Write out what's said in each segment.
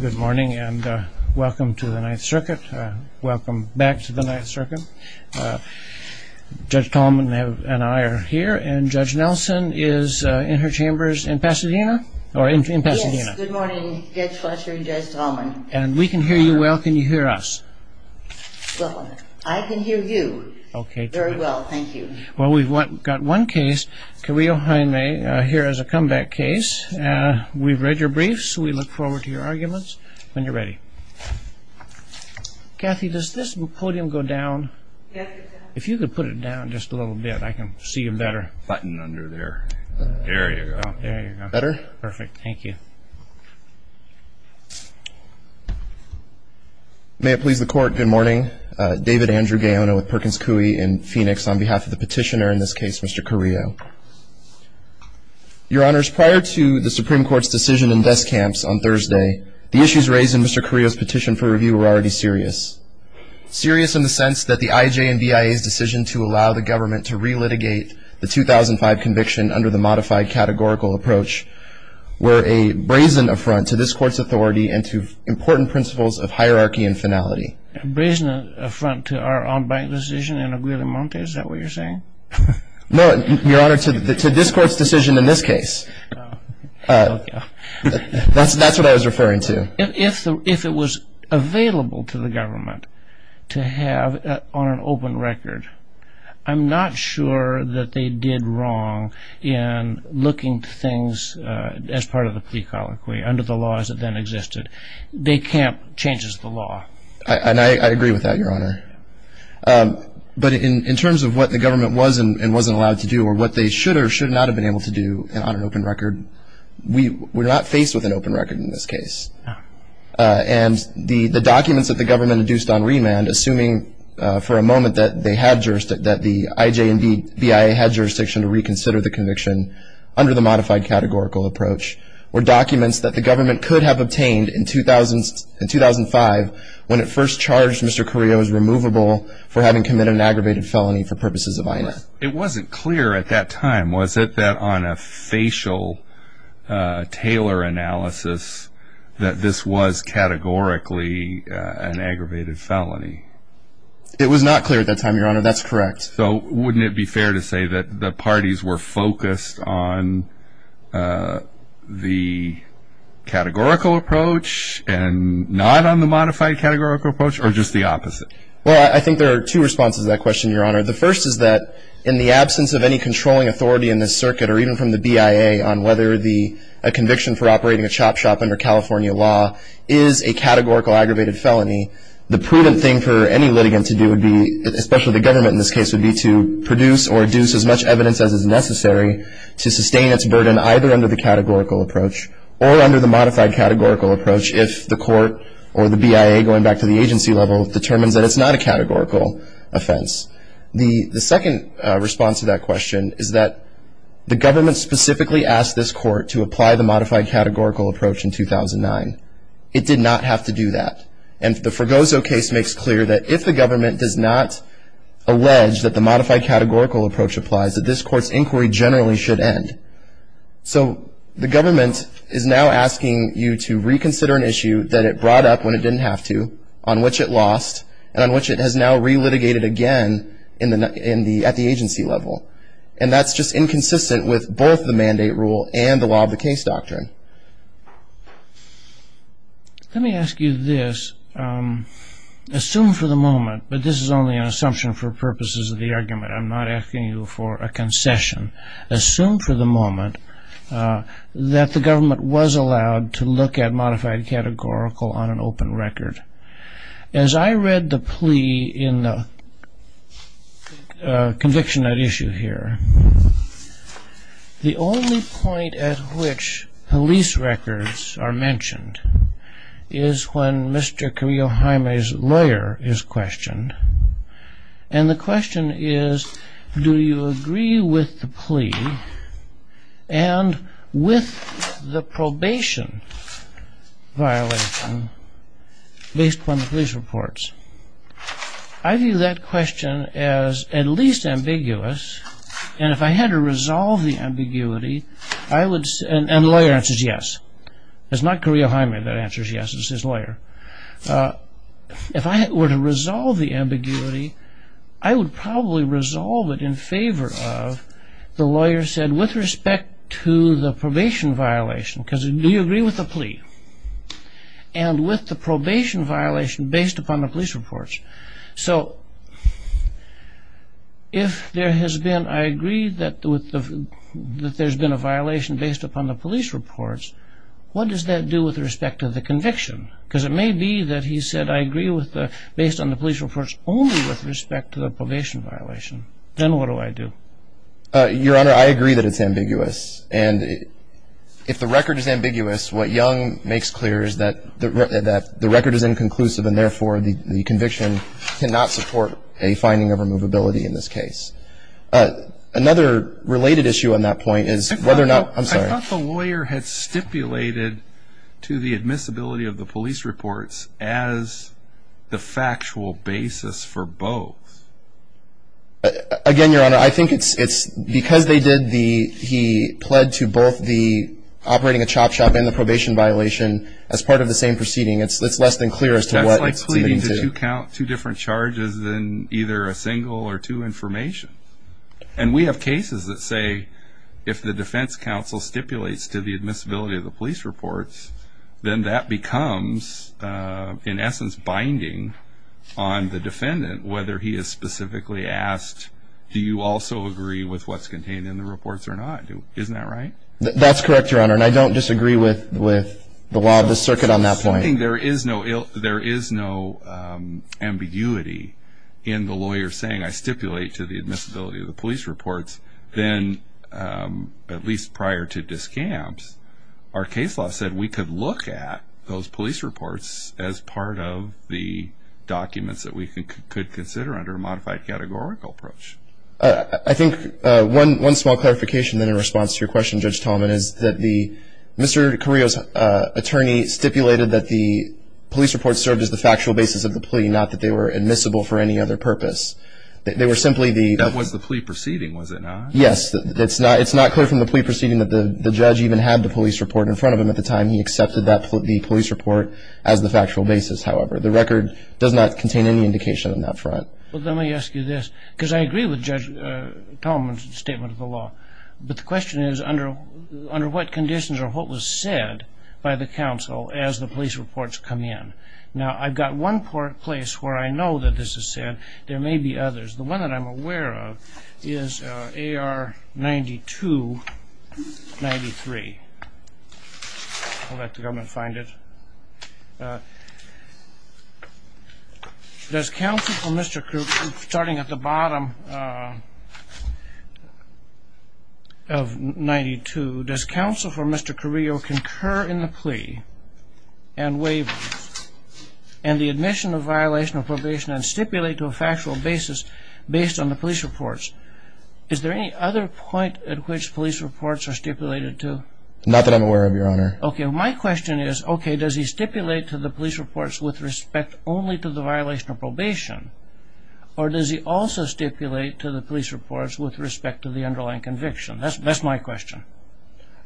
Good morning and welcome to the Ninth Circuit. Welcome back to the Ninth Circuit. Judge Tallman and I are here, and Judge Nelson is in her chambers in Pasadena? Yes, good morning, Judge Fletcher and Judge Tallman. And we can hear you well. Can you hear us? Well, I can hear you very well, thank you. Well, we've got one case, Carrillo-Jaime, here as a comeback case. We've read your briefs. We look forward to your arguments when you're ready. Kathy, does this podium go down? Yes, it does. If you could put it down just a little bit, I can see you better. Button under there. There you go. There you go. Better? Perfect. Thank you. May it please the Court, good morning. David Andrew Gaona with Perkins Coie in Phoenix on behalf of the petitioner in this case, Mr. Carrillo. Your Honors, prior to the Supreme Court's decision in desk camps on Thursday, the issues raised in Mr. Carrillo's petition for review were already serious. Serious in the sense that the IJ and BIA's decision to allow the government to relitigate the 2005 conviction under the modified categorical approach were a brazen affront to this Court's authority and to important principles of hierarchy and finality. Brazen affront to our own bank decision in Aguila Monte, is that what you're saying? No, Your Honor, to this Court's decision in this case. That's what I was referring to. If it was available to the government to have on an open record, I'm not sure that they did wrong in looking to things as part of the plea colloquy under the laws that then existed. Day camp changes the law. I agree with that, Your Honor. But in terms of what the government was and wasn't allowed to do or what they should or should not have been able to do on an open record, we're not faced with an open record in this case. And the documents that the government induced on remand, assuming for a moment that they had jurisdiction, that the IJ and BIA had jurisdiction to reconsider the conviction under the modified categorical approach, were documents that the government could have obtained in 2005 when it first charged Mr. Carrillo as removable for having committed an aggravated felony for purposes of violence. It wasn't clear at that time, was it, that on a facial tailor analysis that this was categorically an aggravated felony? It was not clear at that time, Your Honor. That's correct. So wouldn't it be fair to say that the parties were focused on the categorical approach and not on the modified categorical approach or just the opposite? Well, I think there are two responses to that question, Your Honor. The first is that in the absence of any controlling authority in this circuit or even from the BIA on whether a conviction for operating a chop shop under California law is a categorical aggravated felony, the prudent thing for any litigant to do would be, especially the government in this case, would be to produce or deduce as much evidence as is necessary to sustain its burden either under the categorical approach or under the modified categorical approach if the court or the BIA going back to the agency level determines that it's not a categorical offense. The second response to that question is that the government specifically asked this court to apply the modified categorical approach in 2009. It did not have to do that. And the Fregoso case makes clear that if the government does not allege that the modified categorical approach applies, that this court's inquiry generally should end. So the government is now asking you to reconsider an issue that it brought up when it didn't have to, on which it lost, and on which it has now re-litigated again at the agency level. And that's just inconsistent with both the mandate rule and the law of the case doctrine. Let me ask you this. Assume for the moment, but this is only an assumption for purposes of the argument. I'm not asking you for a concession. Assume for the moment that the government was allowed to look at modified categorical on an open record. As I read the plea in the conviction at issue here, the only point at which police records are mentioned is when Mr. Kiriyohime's lawyer is questioned. And the question is, do you agree with the plea and with the probation violation based upon the police reports? I view that question as at least ambiguous. And if I had to resolve the ambiguity, I would... And the lawyer answers yes. It's not Kiriyohime that answers yes, it's his lawyer. If I were to resolve the ambiguity, I would probably resolve it in favor of, the lawyer said, with respect to the probation violation. Because do you agree with the plea? And with the probation violation based upon the police reports. So, if there has been, I agree that there's been a violation based upon the police reports, what does that do with respect to the conviction? Because it may be that he said, I agree based on the police reports only with respect to the probation violation. Then what do I do? Your Honor, I agree that it's ambiguous. And if the record is ambiguous, what Young makes clear is that the record is inconclusive and therefore the conviction cannot support a finding of removability in this case. Another related issue on that point is whether or not... I thought the lawyer had stipulated to the admissibility of the police reports as the factual basis for both. Again, Your Honor, I think it's because they did the... He pled to both the operating a chop shop and the probation violation as part of the same proceeding. It's less than clear as to what... That's like pleading to two different charges than either a single or two information. And we have cases that say, if the defense counsel stipulates to the admissibility of the police reports, then that becomes, in essence, binding on the defendant, whether he is specifically asked, do you also agree with what's contained in the reports or not? Isn't that right? That's correct, Your Honor. And I don't disagree with the law of the circuit on that point. I think there is no ambiguity in the lawyer saying, I stipulate to the admissibility of the police reports, then, at least prior to discams, our case law said we could look at those police reports as part of the documents that we could consider under a modified categorical approach. I think one small clarification in response to your question, Judge Tallman, is that Mr. Carrillo's attorney stipulated that the police reports served as the factual basis of the plea, not that they were admissible for any other purpose. They were simply the... That was the plea proceeding, was it not? Yes. It's not clear from the plea proceeding that the judge even had the police report in front of him at the time. He accepted the police report as the factual basis, however. The record does not contain any indication on that front. Well, let me ask you this, because I agree with Judge Tallman's statement of the law. But the question is, under what conditions or what was said by the counsel as the police reports come in? Now, I've got one place where I know that this is said. There may be others. The one that I'm aware of is AR 9293. I'll let the government find it. Does counsel for Mr. Carrillo, starting at the bottom of 92, does counsel for Mr. Carrillo concur in the plea and waive and the admission of violation of probation and stipulate to a factual basis based on the police reports? Is there any other point at which police reports are stipulated to? Okay. My question is, okay, does he stipulate to the police reports with respect only to the violation of probation, or does he also stipulate to the police reports with respect to the underlying conviction? That's my question.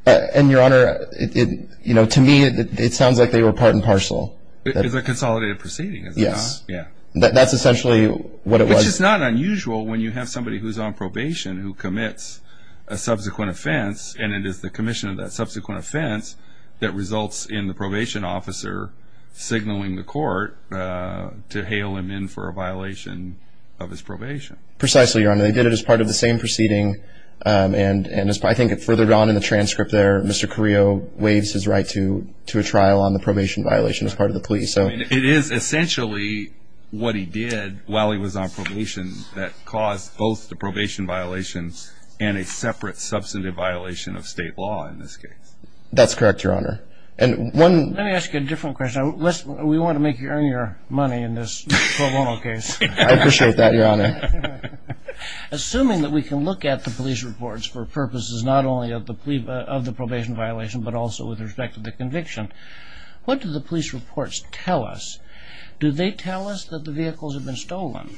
And, Your Honor, you know, to me it sounds like they were part and parcel. It's a consolidated proceeding, is it not? Yes. That's essentially what it was. Which is not unusual when you have somebody who's on probation who commits a subsequent offense and it is the commission of that subsequent offense that results in the probation officer signaling the court to hail him in for a violation of his probation. Precisely, Your Honor. They did it as part of the same proceeding, and I think further down in the transcript there, Mr. Carrillo waives his right to a trial on the probation violation as part of the plea. It is essentially what he did while he was on probation that caused both the probation violation and a separate substantive violation of state law in this case. That's correct, Your Honor. Let me ask you a different question. We want to make you earn your money in this pro bono case. I appreciate that, Your Honor. Assuming that we can look at the police reports for purposes not only of the probation violation but also with respect to the conviction, what do the police reports tell us? Do they tell us that the vehicles have been stolen?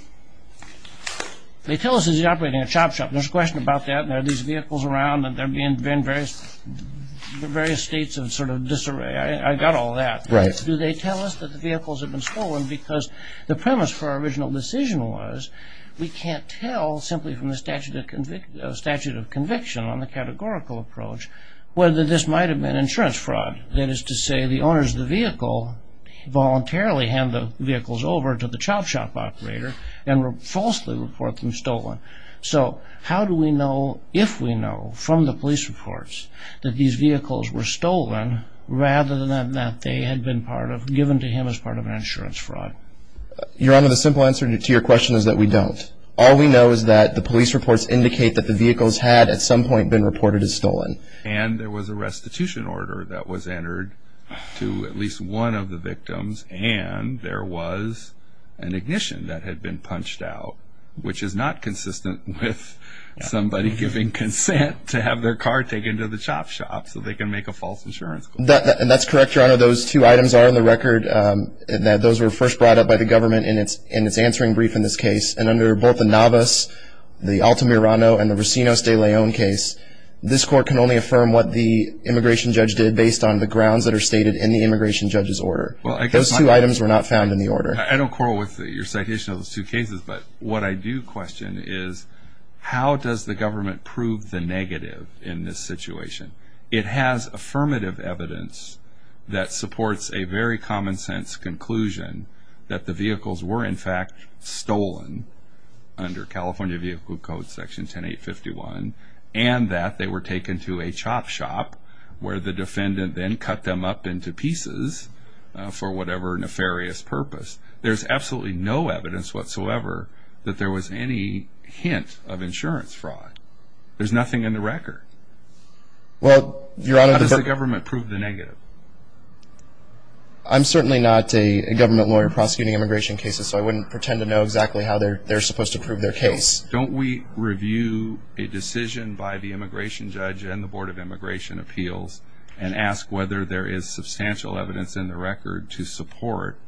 They tell us he's operating a chop shop. There's a question about that and there are these vehicles around and there have been various states of sort of disarray. I got all that. Right. Do they tell us that the vehicles have been stolen because the premise for our original decision was we can't tell simply from the statute of conviction on the categorical approach whether this might have been insurance fraud. That is to say the owners of the vehicle voluntarily hand the vehicles over to the chop shop operator and falsely report them stolen. So how do we know if we know from the police reports that these vehicles were stolen rather than that they had been given to him as part of an insurance fraud? Your Honor, the simple answer to your question is that we don't. All we know is that the police reports indicate that the vehicles had at some point been reported as stolen. And there was a restitution order that was entered to at least one of the victims and there was an ignition that had been punched out, which is not consistent with somebody giving consent to have their car taken to the chop shop so they can make a false insurance claim. That's correct, Your Honor. Those two items are on the record. Those were first brought up by the government in its answering brief in this case. And under both the Navas, the Altamirano, and the Rocinos de Leon case, this court can only affirm what the immigration judge did based on the grounds that are stated in the immigration judge's order. Those two items were not found in the order. I don't quarrel with your citation of those two cases, but what I do question is how does the government prove the negative in this situation? It has affirmative evidence that supports a very common sense conclusion that the vehicles were in fact stolen under California Vehicle Code Section 10851 and that they were taken to a chop shop where the defendant then cut them up into pieces for whatever nefarious purpose. There's absolutely no evidence whatsoever that there was any hint of insurance fraud. There's nothing in the record. How does the government prove the negative? I'm certainly not a government lawyer prosecuting immigration cases, so I wouldn't pretend to know exactly how they're supposed to prove their case. Don't we review a decision by the immigration judge and the Board of Immigration Appeals and ask whether there is substantial evidence in the record to support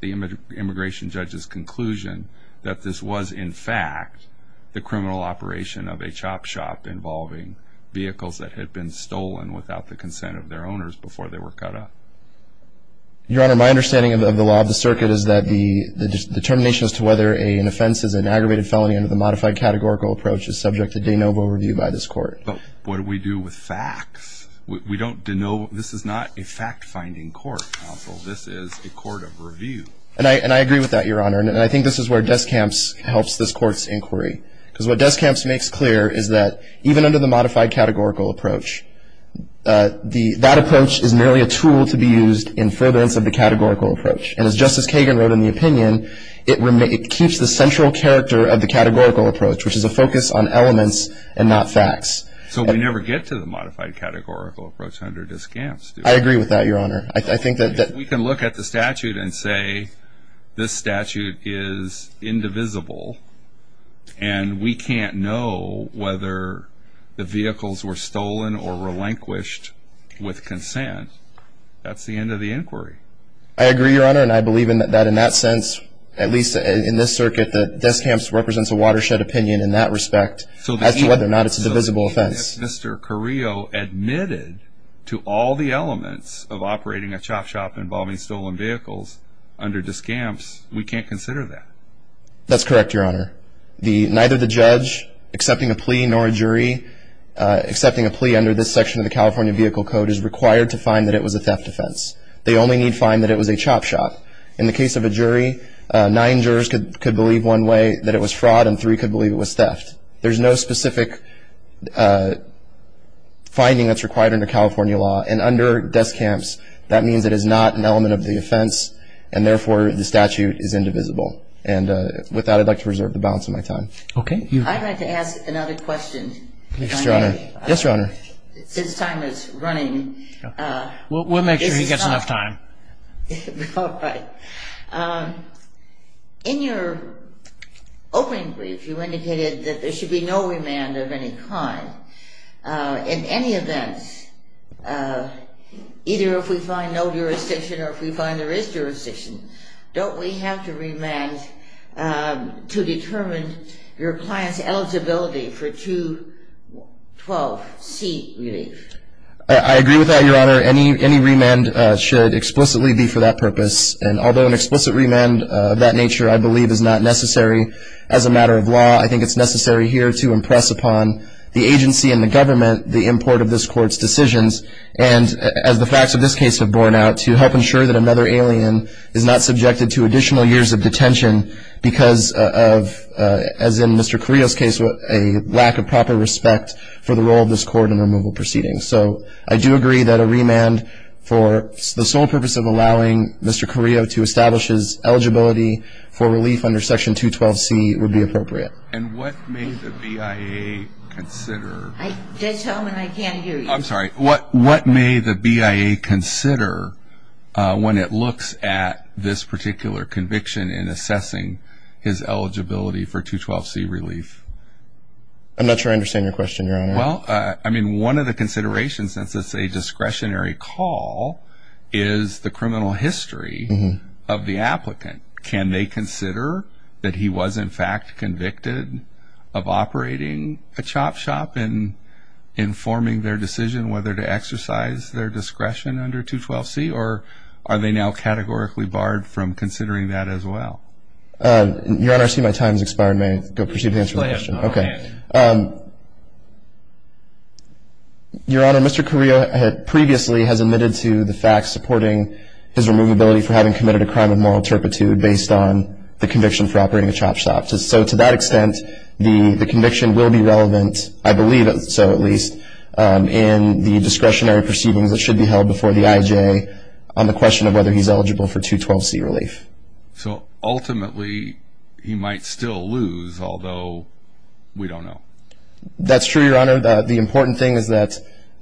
the immigration judge's conclusion that this was in fact the criminal operation of a chop shop involving vehicles that had been stolen without the consent of their owners before they were cut up? Your Honor, my understanding of the law of the circuit is that the determination as to whether an offense is an aggravated felony under the modified categorical approach is subject to de novo review by this court. But what do we do with facts? We don't de novo. This is not a fact-finding court, counsel. This is a court of review. And I agree with that, Your Honor, and I think this is where Descamps helps this court's inquiry because what Descamps makes clear is that even under the modified categorical approach, that approach is merely a tool to be used in furtherance of the categorical approach. And as Justice Kagan wrote in the opinion, it keeps the central character of the categorical approach, which is a focus on elements and not facts. So we never get to the modified categorical approach under Descamps, do we? I agree with that, Your Honor. We can look at the statute and say this statute is indivisible and we can't know whether the vehicles were stolen or relinquished with consent. That's the end of the inquiry. I agree, Your Honor, and I believe that in that sense, at least in this circuit, that Descamps represents a watershed opinion in that respect as to whether or not it's a divisible offense. If Mr. Carrillo admitted to all the elements of operating a chop shop involving stolen vehicles under Descamps, we can't consider that. That's correct, Your Honor. Neither the judge accepting a plea nor a jury accepting a plea under this section of the California Vehicle Code is required to find that it was a theft offense. They only need to find that it was a chop shop. In the case of a jury, nine jurors could believe one way that it was fraud and three could believe it was theft. There's no specific finding that's required under California law. And under Descamps, that means it is not an element of the offense and therefore the statute is indivisible. And with that, I'd like to reserve the balance of my time. Okay. I'd like to ask another question. Yes, Your Honor. Since time is running, this is time. We'll make sure he gets enough time. All right. In your opening brief, you indicated that there should be no remand of any kind. In any event, either if we find no jurisdiction or if we find there is jurisdiction, don't we have to remand to determine your client's eligibility for 212C relief? I agree with that, Your Honor. Any remand should explicitly be for that purpose. And although an explicit remand of that nature, I believe, is not necessary. As a matter of law, I think it's necessary here to impress upon the agency and the government the import of this Court's decisions, and as the facts of this case have borne out, to help ensure that another alien is not subjected to additional years of detention because of, as in Mr. Carrillo's case, a lack of proper respect for the role of this Court in removal proceedings. So I do agree that a remand for the sole purpose of allowing Mr. Carrillo to establish his eligibility for relief under Section 212C would be appropriate. And what may the BIA consider? Just tell him and I can't hear you. I'm sorry. What may the BIA consider when it looks at this particular conviction in assessing his eligibility for 212C relief? I'm not sure I understand your question, Your Honor. Well, I mean, one of the considerations, since it's a discretionary call, is the criminal history of the applicant. Can they consider that he was, in fact, convicted of operating a chop shop and informing their decision whether to exercise their discretion under 212C, or are they now categorically barred from considering that as well? Your Honor, I see my time has expired. If I may go proceed to answer the question. Go ahead. Okay. Your Honor, Mr. Carrillo previously has admitted to the fact supporting his removability for having committed a crime of moral turpitude based on the conviction for operating a chop shop. So to that extent, the conviction will be relevant, I believe so at least, in the discretionary proceedings that should be held before the IJ on the question of whether he's eligible for 212C relief. So ultimately, he might still lose, although we don't know. That's true, Your Honor. The important thing is that,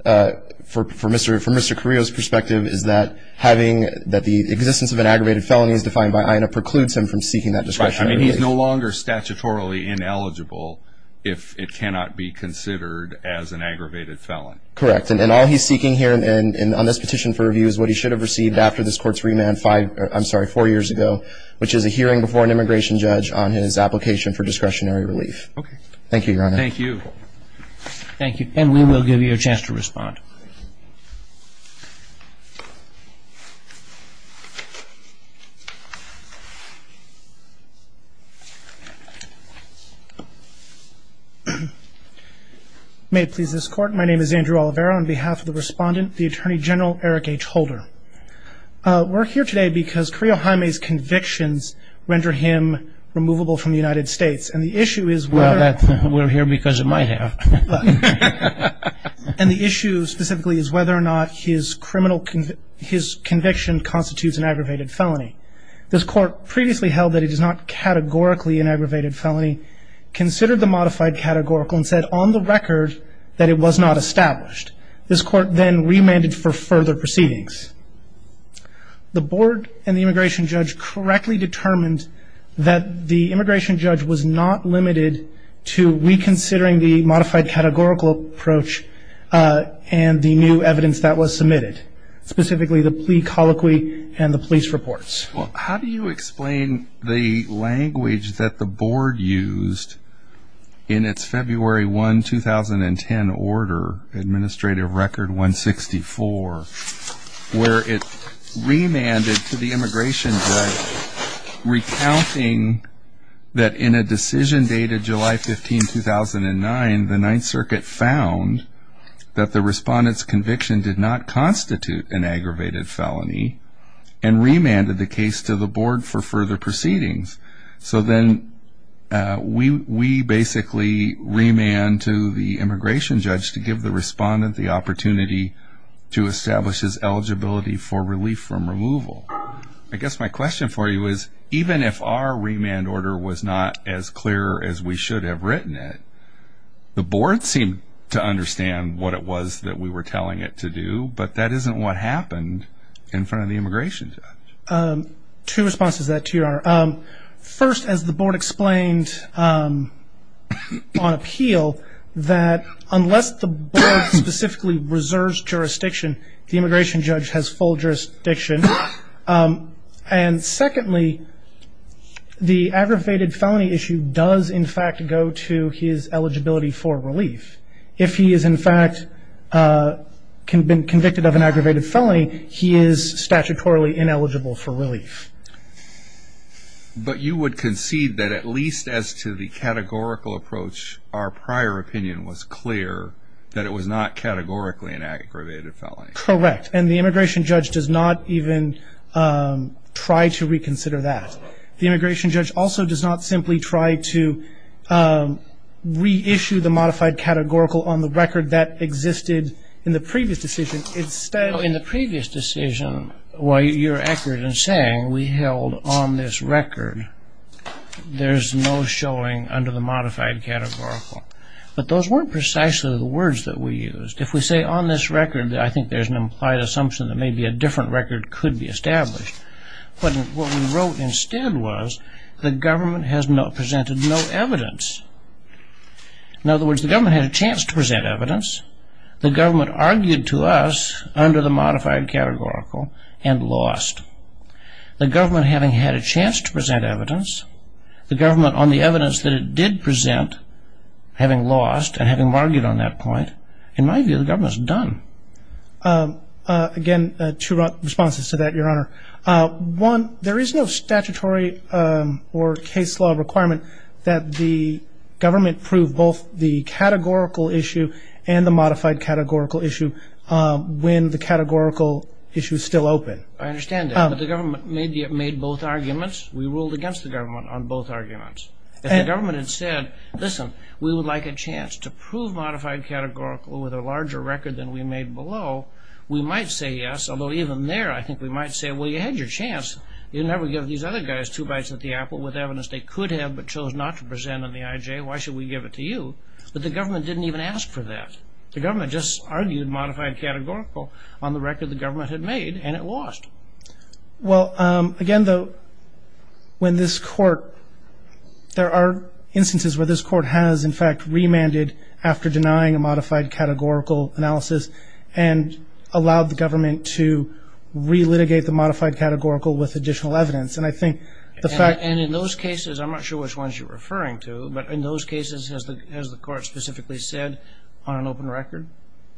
from Mr. Carrillo's perspective, is that the existence of an aggravated felony is defined by INA precludes him from seeking that discretionary relief. Right. I mean, he's no longer statutorily ineligible if it cannot be considered as an aggravated felony. Correct. And all he's seeking here on this petition for review is what he should have received after this Court's remand four years ago, which is a hearing before an immigration judge on his application for discretionary relief. Thank you, Your Honor. Thank you. Thank you. And we will give you a chance to respond. May it please this Court, my name is Andrew Oliveira. On behalf of the Respondent, the Attorney General, Eric H. Holder. We're here today because Carrillo Jaime's convictions render him removable from the United States. And the issue is whether... Well, we're here because of my hair. And the issue specifically is whether or not his conviction constitutes an aggravated felony. This Court previously held that it is not categorically an aggravated felony, considered the modified categorical, and said on the record that it was not established. This Court then remanded for further proceedings. The board and the immigration judge correctly determined that the immigration judge was not limited to reconsidering the modified categorical approach and the new evidence that was submitted, specifically the plea colloquy and the police reports. Well, how do you explain the language that the board used in its February 1, 2010 order, Administrative Record 164, where it remanded to the immigration judge, recounting that in a decision dated July 15, 2009, the Ninth Circuit found that the Respondent's conviction did not constitute an aggravated felony and remanded the case to the board for further proceedings. So then we basically remand to the immigration judge to give the Respondent the opportunity to establish his eligibility for relief from removal. I guess my question for you is, even if our remand order was not as clear as we should have written it, the board seemed to understand what it was that we were telling it to do, but that isn't what happened in front of the immigration judge. Two responses to that, Your Honor. First, as the board explained on appeal, that unless the board specifically reserves jurisdiction, the immigration judge has full jurisdiction. And secondly, the aggravated felony issue does, in fact, go to his eligibility for relief. If he has, in fact, been convicted of an aggravated felony, he is statutorily ineligible for relief. But you would concede that at least as to the categorical approach, our prior opinion was clear that it was not categorically an aggravated felony. Correct. And the immigration judge does not even try to reconsider that. The immigration judge also does not simply try to reissue the modified categorical on the record that existed in the previous decision. In the previous decision, while you're accurate in saying we held on this record, there's no showing under the modified categorical. But those weren't precisely the words that we used. If we say on this record, I think there's an implied assumption that maybe a different record could be established. But what we wrote instead was the government has presented no evidence. In other words, the government had a chance to present evidence. The government argued to us under the modified categorical and lost. The government having had a chance to present evidence, the government on the evidence that it did present having lost and having argued on that point, in my view, the government's done. Again, two responses to that, Your Honor. One, there is no statutory or case law requirement that the government prove both the categorical issue and the modified categorical issue when the categorical issue is still open. I understand that. But the government made both arguments. We ruled against the government on both arguments. If the government had said, listen, we would like a chance to prove modified categorical with a larger record than we made below, we might say yes, although even there I think we might say, well, you had your chance. You never give these other guys two bites at the apple with evidence they could have but chose not to present on the IJ. Why should we give it to you? But the government didn't even ask for that. The government just argued modified categorical on the record the government had made and it lost. Well, again, though, when this court, there are instances where this court has, in fact, remanded after denying a modified categorical analysis and allowed the government to re-litigate the modified categorical with additional evidence. And I think the fact – And in those cases, I'm not sure which ones you're referring to, but in those cases has the court specifically said on an open record?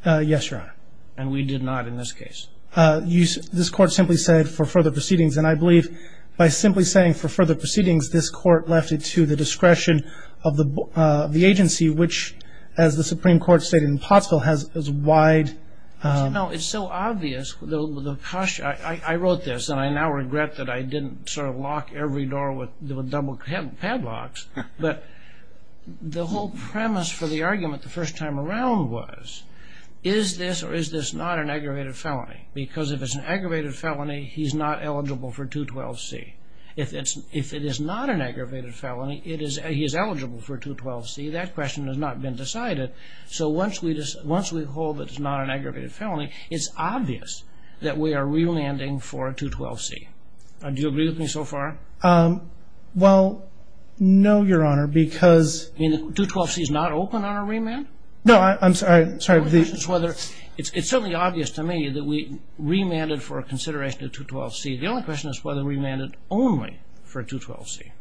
Yes, Your Honor. And we did not in this case. This court simply said for further proceedings. And I believe by simply saying for further proceedings, this court left it to the discretion of the agency, which as the Supreme Court stated in Pottsville has as wide – No, it's so obvious. I wrote this and I now regret that I didn't sort of lock every door with double padlocks. But the whole premise for the argument the first time around was, is this or is this not an aggravated felony? Because if it's an aggravated felony, he's not eligible for 212C. If it is not an aggravated felony, he is eligible for 212C. That question has not been decided. So once we hold that it's not an aggravated felony, it's obvious that we are relanding for a 212C. Do you agree with me so far? Well, no, Your Honor, because – You mean the 212C is not open on a remand? No, I'm sorry. It's certainly obvious to me that we remanded for a consideration of 212C. The only question is whether we remanded only for a 212C.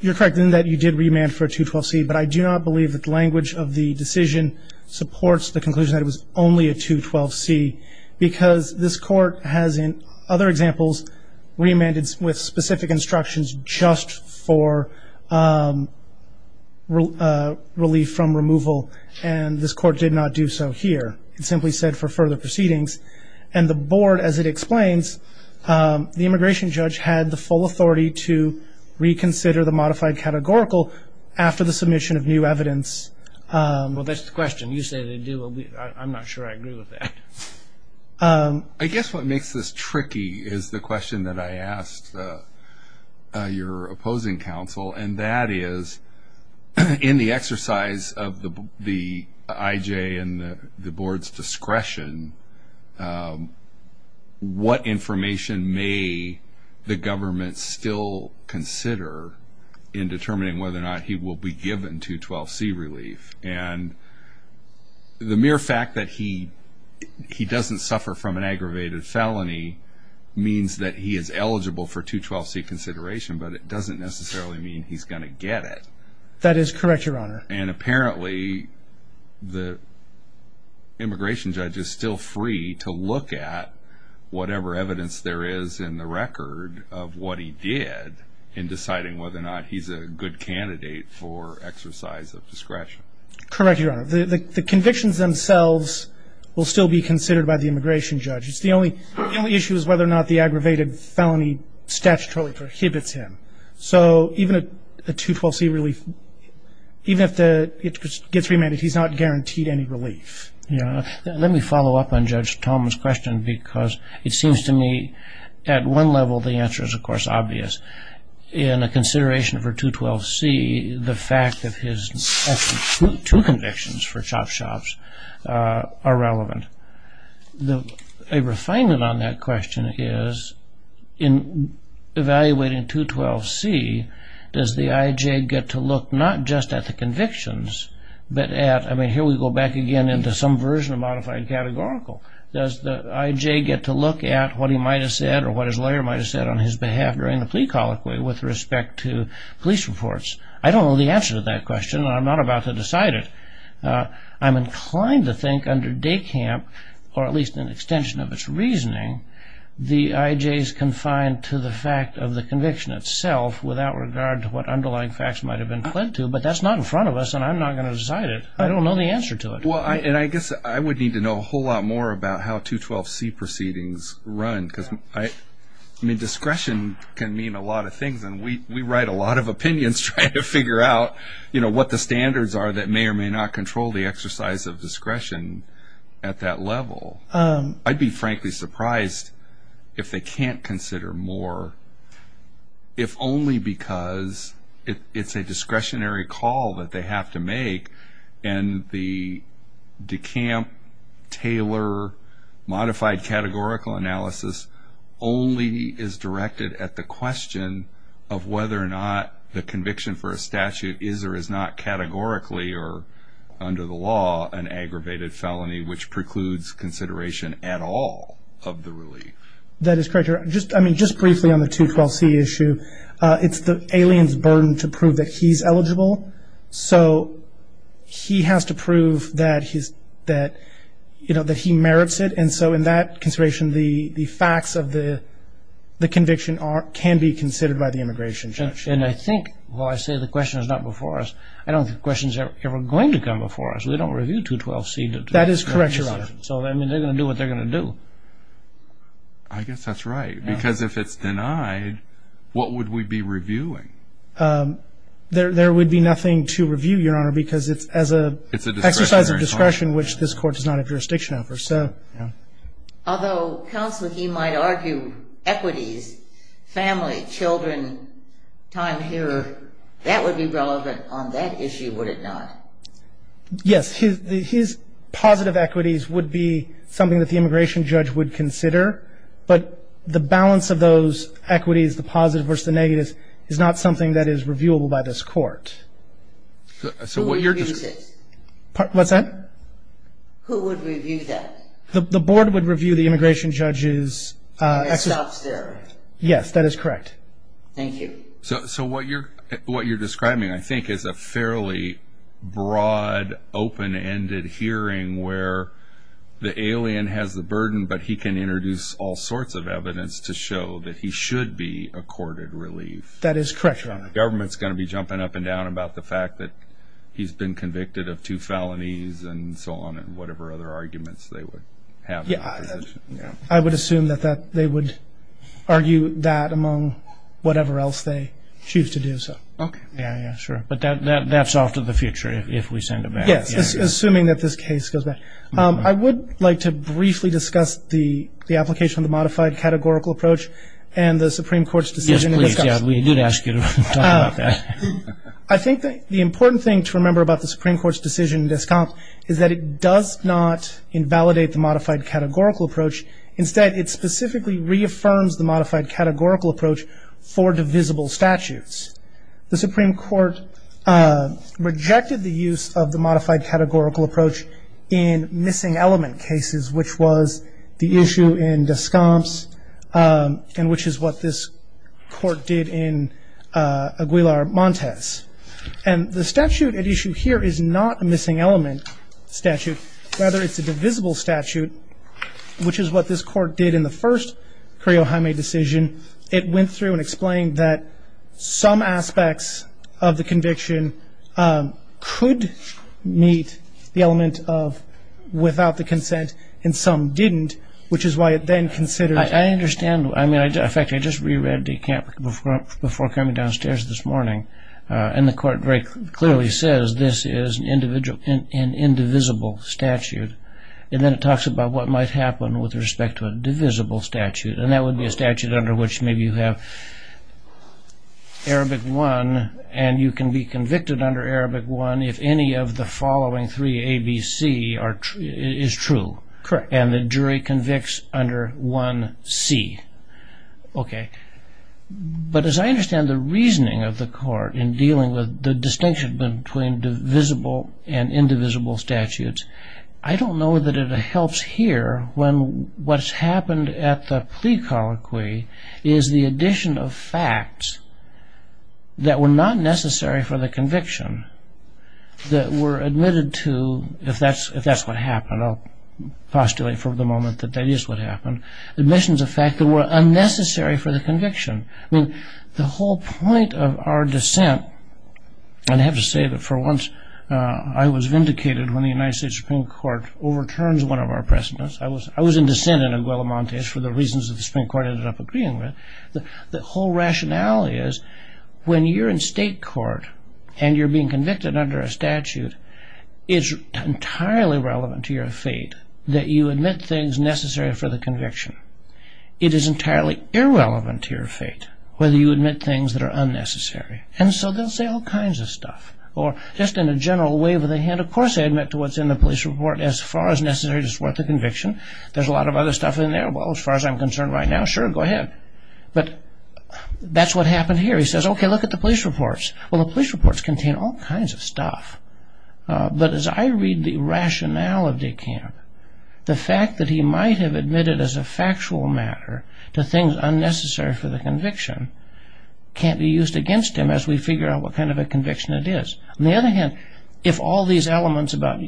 You're correct in that you did remand for a 212C, but I do not believe that the language of the decision supports the conclusion that it was only a 212C because this Court has in other examples remanded with specific instructions just for relief from removal, and this Court did not do so here. It simply said for further proceedings. And the Board, as it explains, the immigration judge had the full authority to reconsider the modified categorical after the submission of new evidence. Well, that's the question. You say they do. I'm not sure I agree with that. I guess what makes this tricky is the question that I asked your opposing counsel, and that is in the exercise of the IJ and the Board's discretion, what information may the government still consider in determining whether or not he will be given 212C relief? And the mere fact that he doesn't suffer from an aggravated felony means that he is eligible for 212C consideration, but it doesn't necessarily mean he's going to get it. That is correct, Your Honor. And apparently the immigration judge is still free to look at whatever evidence there is in the record of what he did in deciding whether or not he's a good candidate for exercise of discretion. Correct, Your Honor. The convictions themselves will still be considered by the immigration judge. The only issue is whether or not the aggravated felony statutorily prohibits him. So even a 212C relief, even if it gets remanded, he's not guaranteed any relief. Let me follow up on Judge Thomas' question, because it seems to me at one level the answer is, of course, obvious. In a consideration for 212C, the fact that he has two convictions for shop-shops are relevant. A refinement on that question is, in evaluating 212C, does the IJ get to look not just at the convictions, but at, I mean, here we go back again into some version of modified categorical. Does the IJ get to look at what he might have said or what his lawyer might have said on his behalf during the plea colloquy with respect to police reports? I don't know the answer to that question, and I'm not about to decide it. I'm inclined to think under DECAMP, or at least an extension of its reasoning, the IJ is confined to the fact of the conviction itself without regard to what underlying facts might have been pled to, but that's not in front of us, and I'm not going to decide it. I don't know the answer to it. Well, and I guess I would need to know a whole lot more about how 212C proceedings run, because, I mean, discretion can mean a lot of things, and we write a lot of opinions trying to figure out, you know, what the standards are that may or may not control the exercise of discretion at that level. I'd be frankly surprised if they can't consider more, if only because it's a discretionary call that they have to make, and the DECAMP-Taylor modified categorical analysis only is directed at the question of whether or not the conviction for a statute is or is not categorically or under the law an aggravated felony which precludes consideration at all of the relief. That is correct. I mean, just briefly on the 212C issue, it's the alien's burden to prove that he's eligible, so he has to prove that he merits it, and so in that consideration, the facts of the conviction can be considered by the immigration judge. And I think, while I say the question is not before us, I don't think the question is ever going to come before us. We don't review 212C. That is correct, Your Honor. So, I mean, they're going to do what they're going to do. I guess that's right, because if it's denied, what would we be reviewing? There would be nothing to review, Your Honor, because it's as an exercise of discretion, which this Court does not have jurisdiction over. Although counsel, he might argue equities, family, children, time here, that would be relevant on that issue, would it not? Yes. His positive equities would be something that the immigration judge would consider, but the balance of those equities, the positive versus the negative, is not something that is reviewable by this Court. Who reviews it? What's that? Who would review that? The Board would review the immigration judge's. Yes, that is correct. Thank you. So what you're describing, I think, is a fairly broad, open-ended hearing where the alien has the burden, but he can introduce all sorts of evidence to show that he should be accorded relief. That is correct, Your Honor. The government's going to be jumping up and down about the fact that he's been convicted of two felonies and so on and whatever other arguments they would have. I would assume that they would argue that among whatever else they choose to do so. Okay. Yeah, yeah, sure. But that's off to the future if we send him out. Yes, assuming that this case goes back. I would like to briefly discuss the application of the modified categorical approach and the Supreme Court's decision in Descamps. Yes, please. Yeah, we did ask you to talk about that. I think the important thing to remember about the Supreme Court's decision in Descamps is that it does not invalidate the modified categorical approach. Instead, it specifically reaffirms the modified categorical approach for divisible statutes. The Supreme Court rejected the use of the modified categorical approach in missing element cases, which was the issue in Descamps and which is what this court did in Aguilar Montes. And the statute at issue here is not a missing element statute. Rather, it's a divisible statute, which is what this court did in the first Curio Jaime decision. It went through and explained that some aspects of the conviction could meet the element of without the consent and some didn't, which is why it then considered. I understand. In fact, I just reread Descamps before coming downstairs this morning. And the court very clearly says this is an indivisible statute. And then it talks about what might happen with respect to a divisible statute. And that would be a statute under which maybe you have Arabic 1, and you can be convicted under Arabic 1 if any of the following three, A, B, C, is true. Correct. And the jury convicts under 1C. Okay. But as I understand the reasoning of the court in dealing with the distinction between divisible and indivisible statutes, I don't know that it helps here when what's happened at the plea colloquy is the addition of facts that were not necessary for the conviction that were admitted to, if that's what happened, I'll postulate for the moment that that is what happened, admissions of fact that were unnecessary for the conviction. I mean, the whole point of our dissent, and I have to say that for once I was vindicated when the United States Supreme Court overturned one of our precedents. I was in dissent in Aguila Montes for the reasons that the Supreme Court ended up agreeing with. The whole rationality is when you're in state court and you're being convicted under a statute, it's entirely relevant to your fate that you admit things necessary for the conviction. It is entirely irrelevant to your fate whether you admit things that are unnecessary. And so they'll say all kinds of stuff, or just in a general wave of the hand, of course I admit to what's in the police report as far as necessary to support the conviction. There's a lot of other stuff in there. Well, as far as I'm concerned right now, sure, go ahead. But that's what happened here. He says, OK, look at the police reports. Well, the police reports contain all kinds of stuff. But as I read the rationale of de Kamp, the fact that he might have admitted as a factual matter to things unnecessary for the conviction can't be used against him as we figure out what kind of a conviction it is. On the other hand, if all these elements about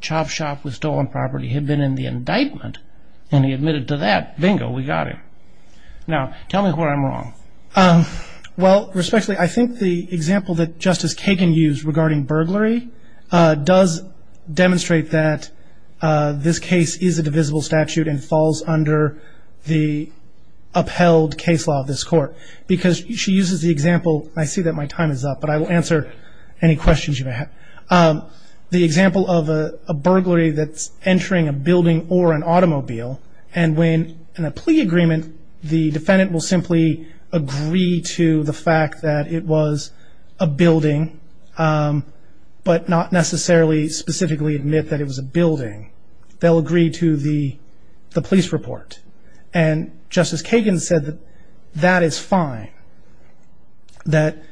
chop shop with stolen property had been in the indictment and he admitted to that, bingo, we got him. Now, tell me where I'm wrong. Well, respectfully, I think the example that Justice Kagan used regarding burglary does demonstrate that this case is a divisible statute and falls under the upheld case law of this court. Because she uses the example, and I see that my time is up, but I will answer any questions you may have, the example of a burglary that's entering a building or an automobile, and when in a plea agreement the defendant will simply agree to the fact that it was a building, but not necessarily specifically admit that it was a building, they'll agree to the police report. And Justice Kagan said that that is fine, that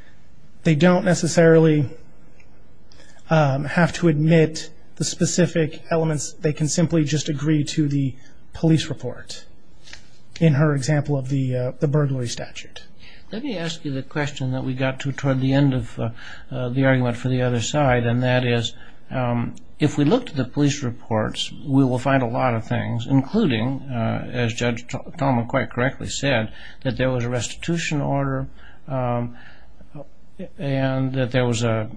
they don't necessarily have to admit the specific elements. They can simply just agree to the police report in her example of the burglary statute. Let me ask you the question that we got to toward the end of the argument for the other side, and that is if we look to the police reports, we will find a lot of things, including, as Judge Tolman quite correctly said, that there was a restitution order and that the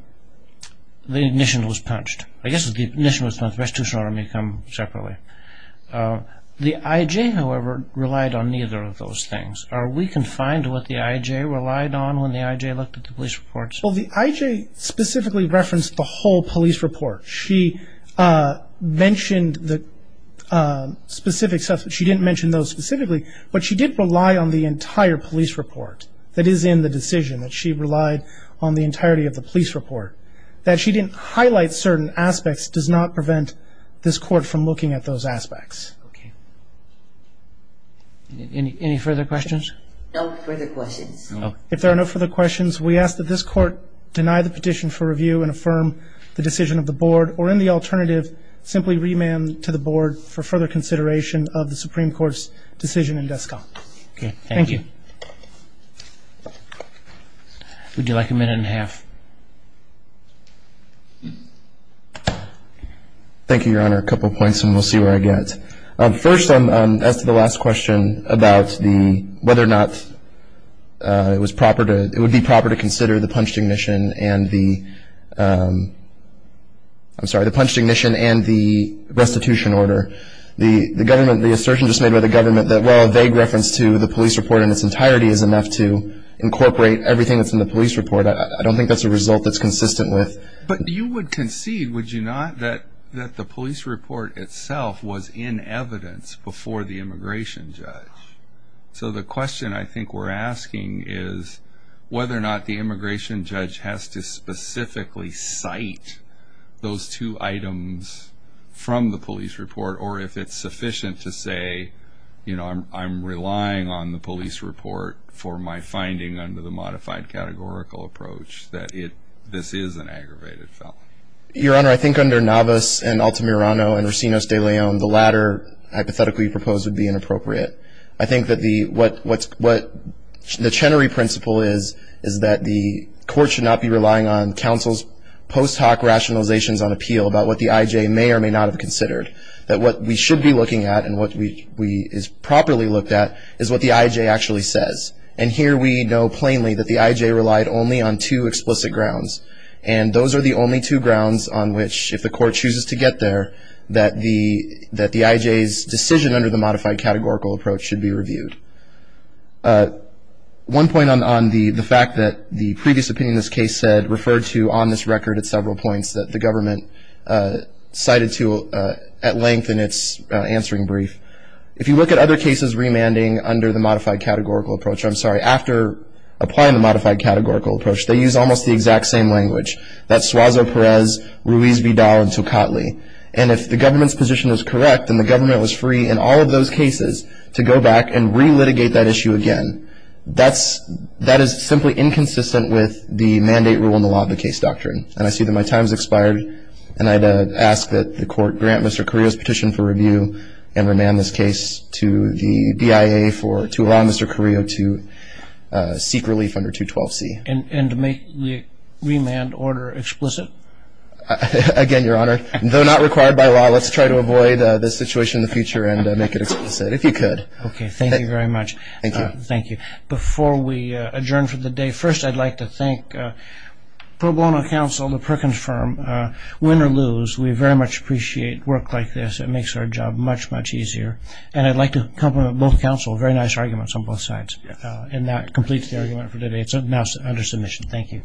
ignition was punched. I guess if the ignition was punched, the restitution order may come separately. The IJ, however, relied on neither of those things. Are we confined to what the IJ relied on when the IJ looked at the police reports? Well, the IJ specifically referenced the whole police report. She mentioned the specific stuff, but she didn't mention those specifically, but she did rely on the entire police report that is in the decision, that she relied on the entirety of the police report. That she didn't highlight certain aspects does not prevent this Court from looking at those aspects. Okay. Any further questions? No further questions. If there are no further questions, we ask that this Court deny the petition for review and affirm the decision of the Board, or in the alternative, simply remand to the Board for further consideration of the Supreme Court's decision in Descal. Okay. Thank you. Would you like a minute and a half? Thank you, Your Honor. A couple of points and we'll see where I get. First, as to the last question about whether or not it would be proper to consider the punched ignition and the, I'm sorry, the punched ignition and the restitution order, the assertion just made by the government that, well, a vague reference to the police report in its entirety is enough to incorporate everything that's in the police report. I don't think that's a result that's consistent with. But you would concede, would you not, that the police report itself was in evidence before the immigration judge. So the question I think we're asking is whether or not the immigration judge has to specifically cite those two items from the police report, or if it's sufficient to say, you know, I'm relying on the police report for my finding under the modified categorical approach that this is an aggravated felony. Your Honor, I think under Navas and Altamirano and Racinos de Leon, the latter hypothetically proposed would be inappropriate. I think that the, what the Chenery principle is, is that the court should not be relying on counsel's post hoc rationalizations on appeal about what the IJ may or may not have considered. That what we should be looking at and what we is properly looked at is what the IJ actually says. And here we know plainly that the IJ relied only on two explicit grounds. And those are the only two grounds on which, if the court chooses to get there, that the IJ's decision under the modified categorical approach should be reviewed. One point on the fact that the previous opinion in this case said, referred to on this record at several points that the government cited to at length in its answering brief. If you look at other cases remanding under the modified categorical approach, I'm sorry, after applying the modified categorical approach, they use almost the exact same language. That's Suazo-Perez, Ruiz-Vidal, and Tocatli. And if the government's position is correct, then the government was free in all of those cases to go back and re-litigate that issue again. And that is simply inconsistent with the mandate rule in the law of the case doctrine. And I see that my time has expired, and I'd ask that the court grant Mr. Carrillo's petition for review and remand this case to the BIA to allow Mr. Carrillo to seek relief under 212C. And to make the remand order explicit? Again, Your Honor, though not required by law, let's try to avoid this situation in the future and make it explicit, if you could. Okay. Thank you very much. Thank you. Thank you. Before we adjourn for the day, first I'd like to thank pro bono counsel, the Perkins firm, win or lose. We very much appreciate work like this. It makes our job much, much easier. And I'd like to compliment both counsel, very nice arguments on both sides. And that completes the argument for today. It's now under submission. Thank you.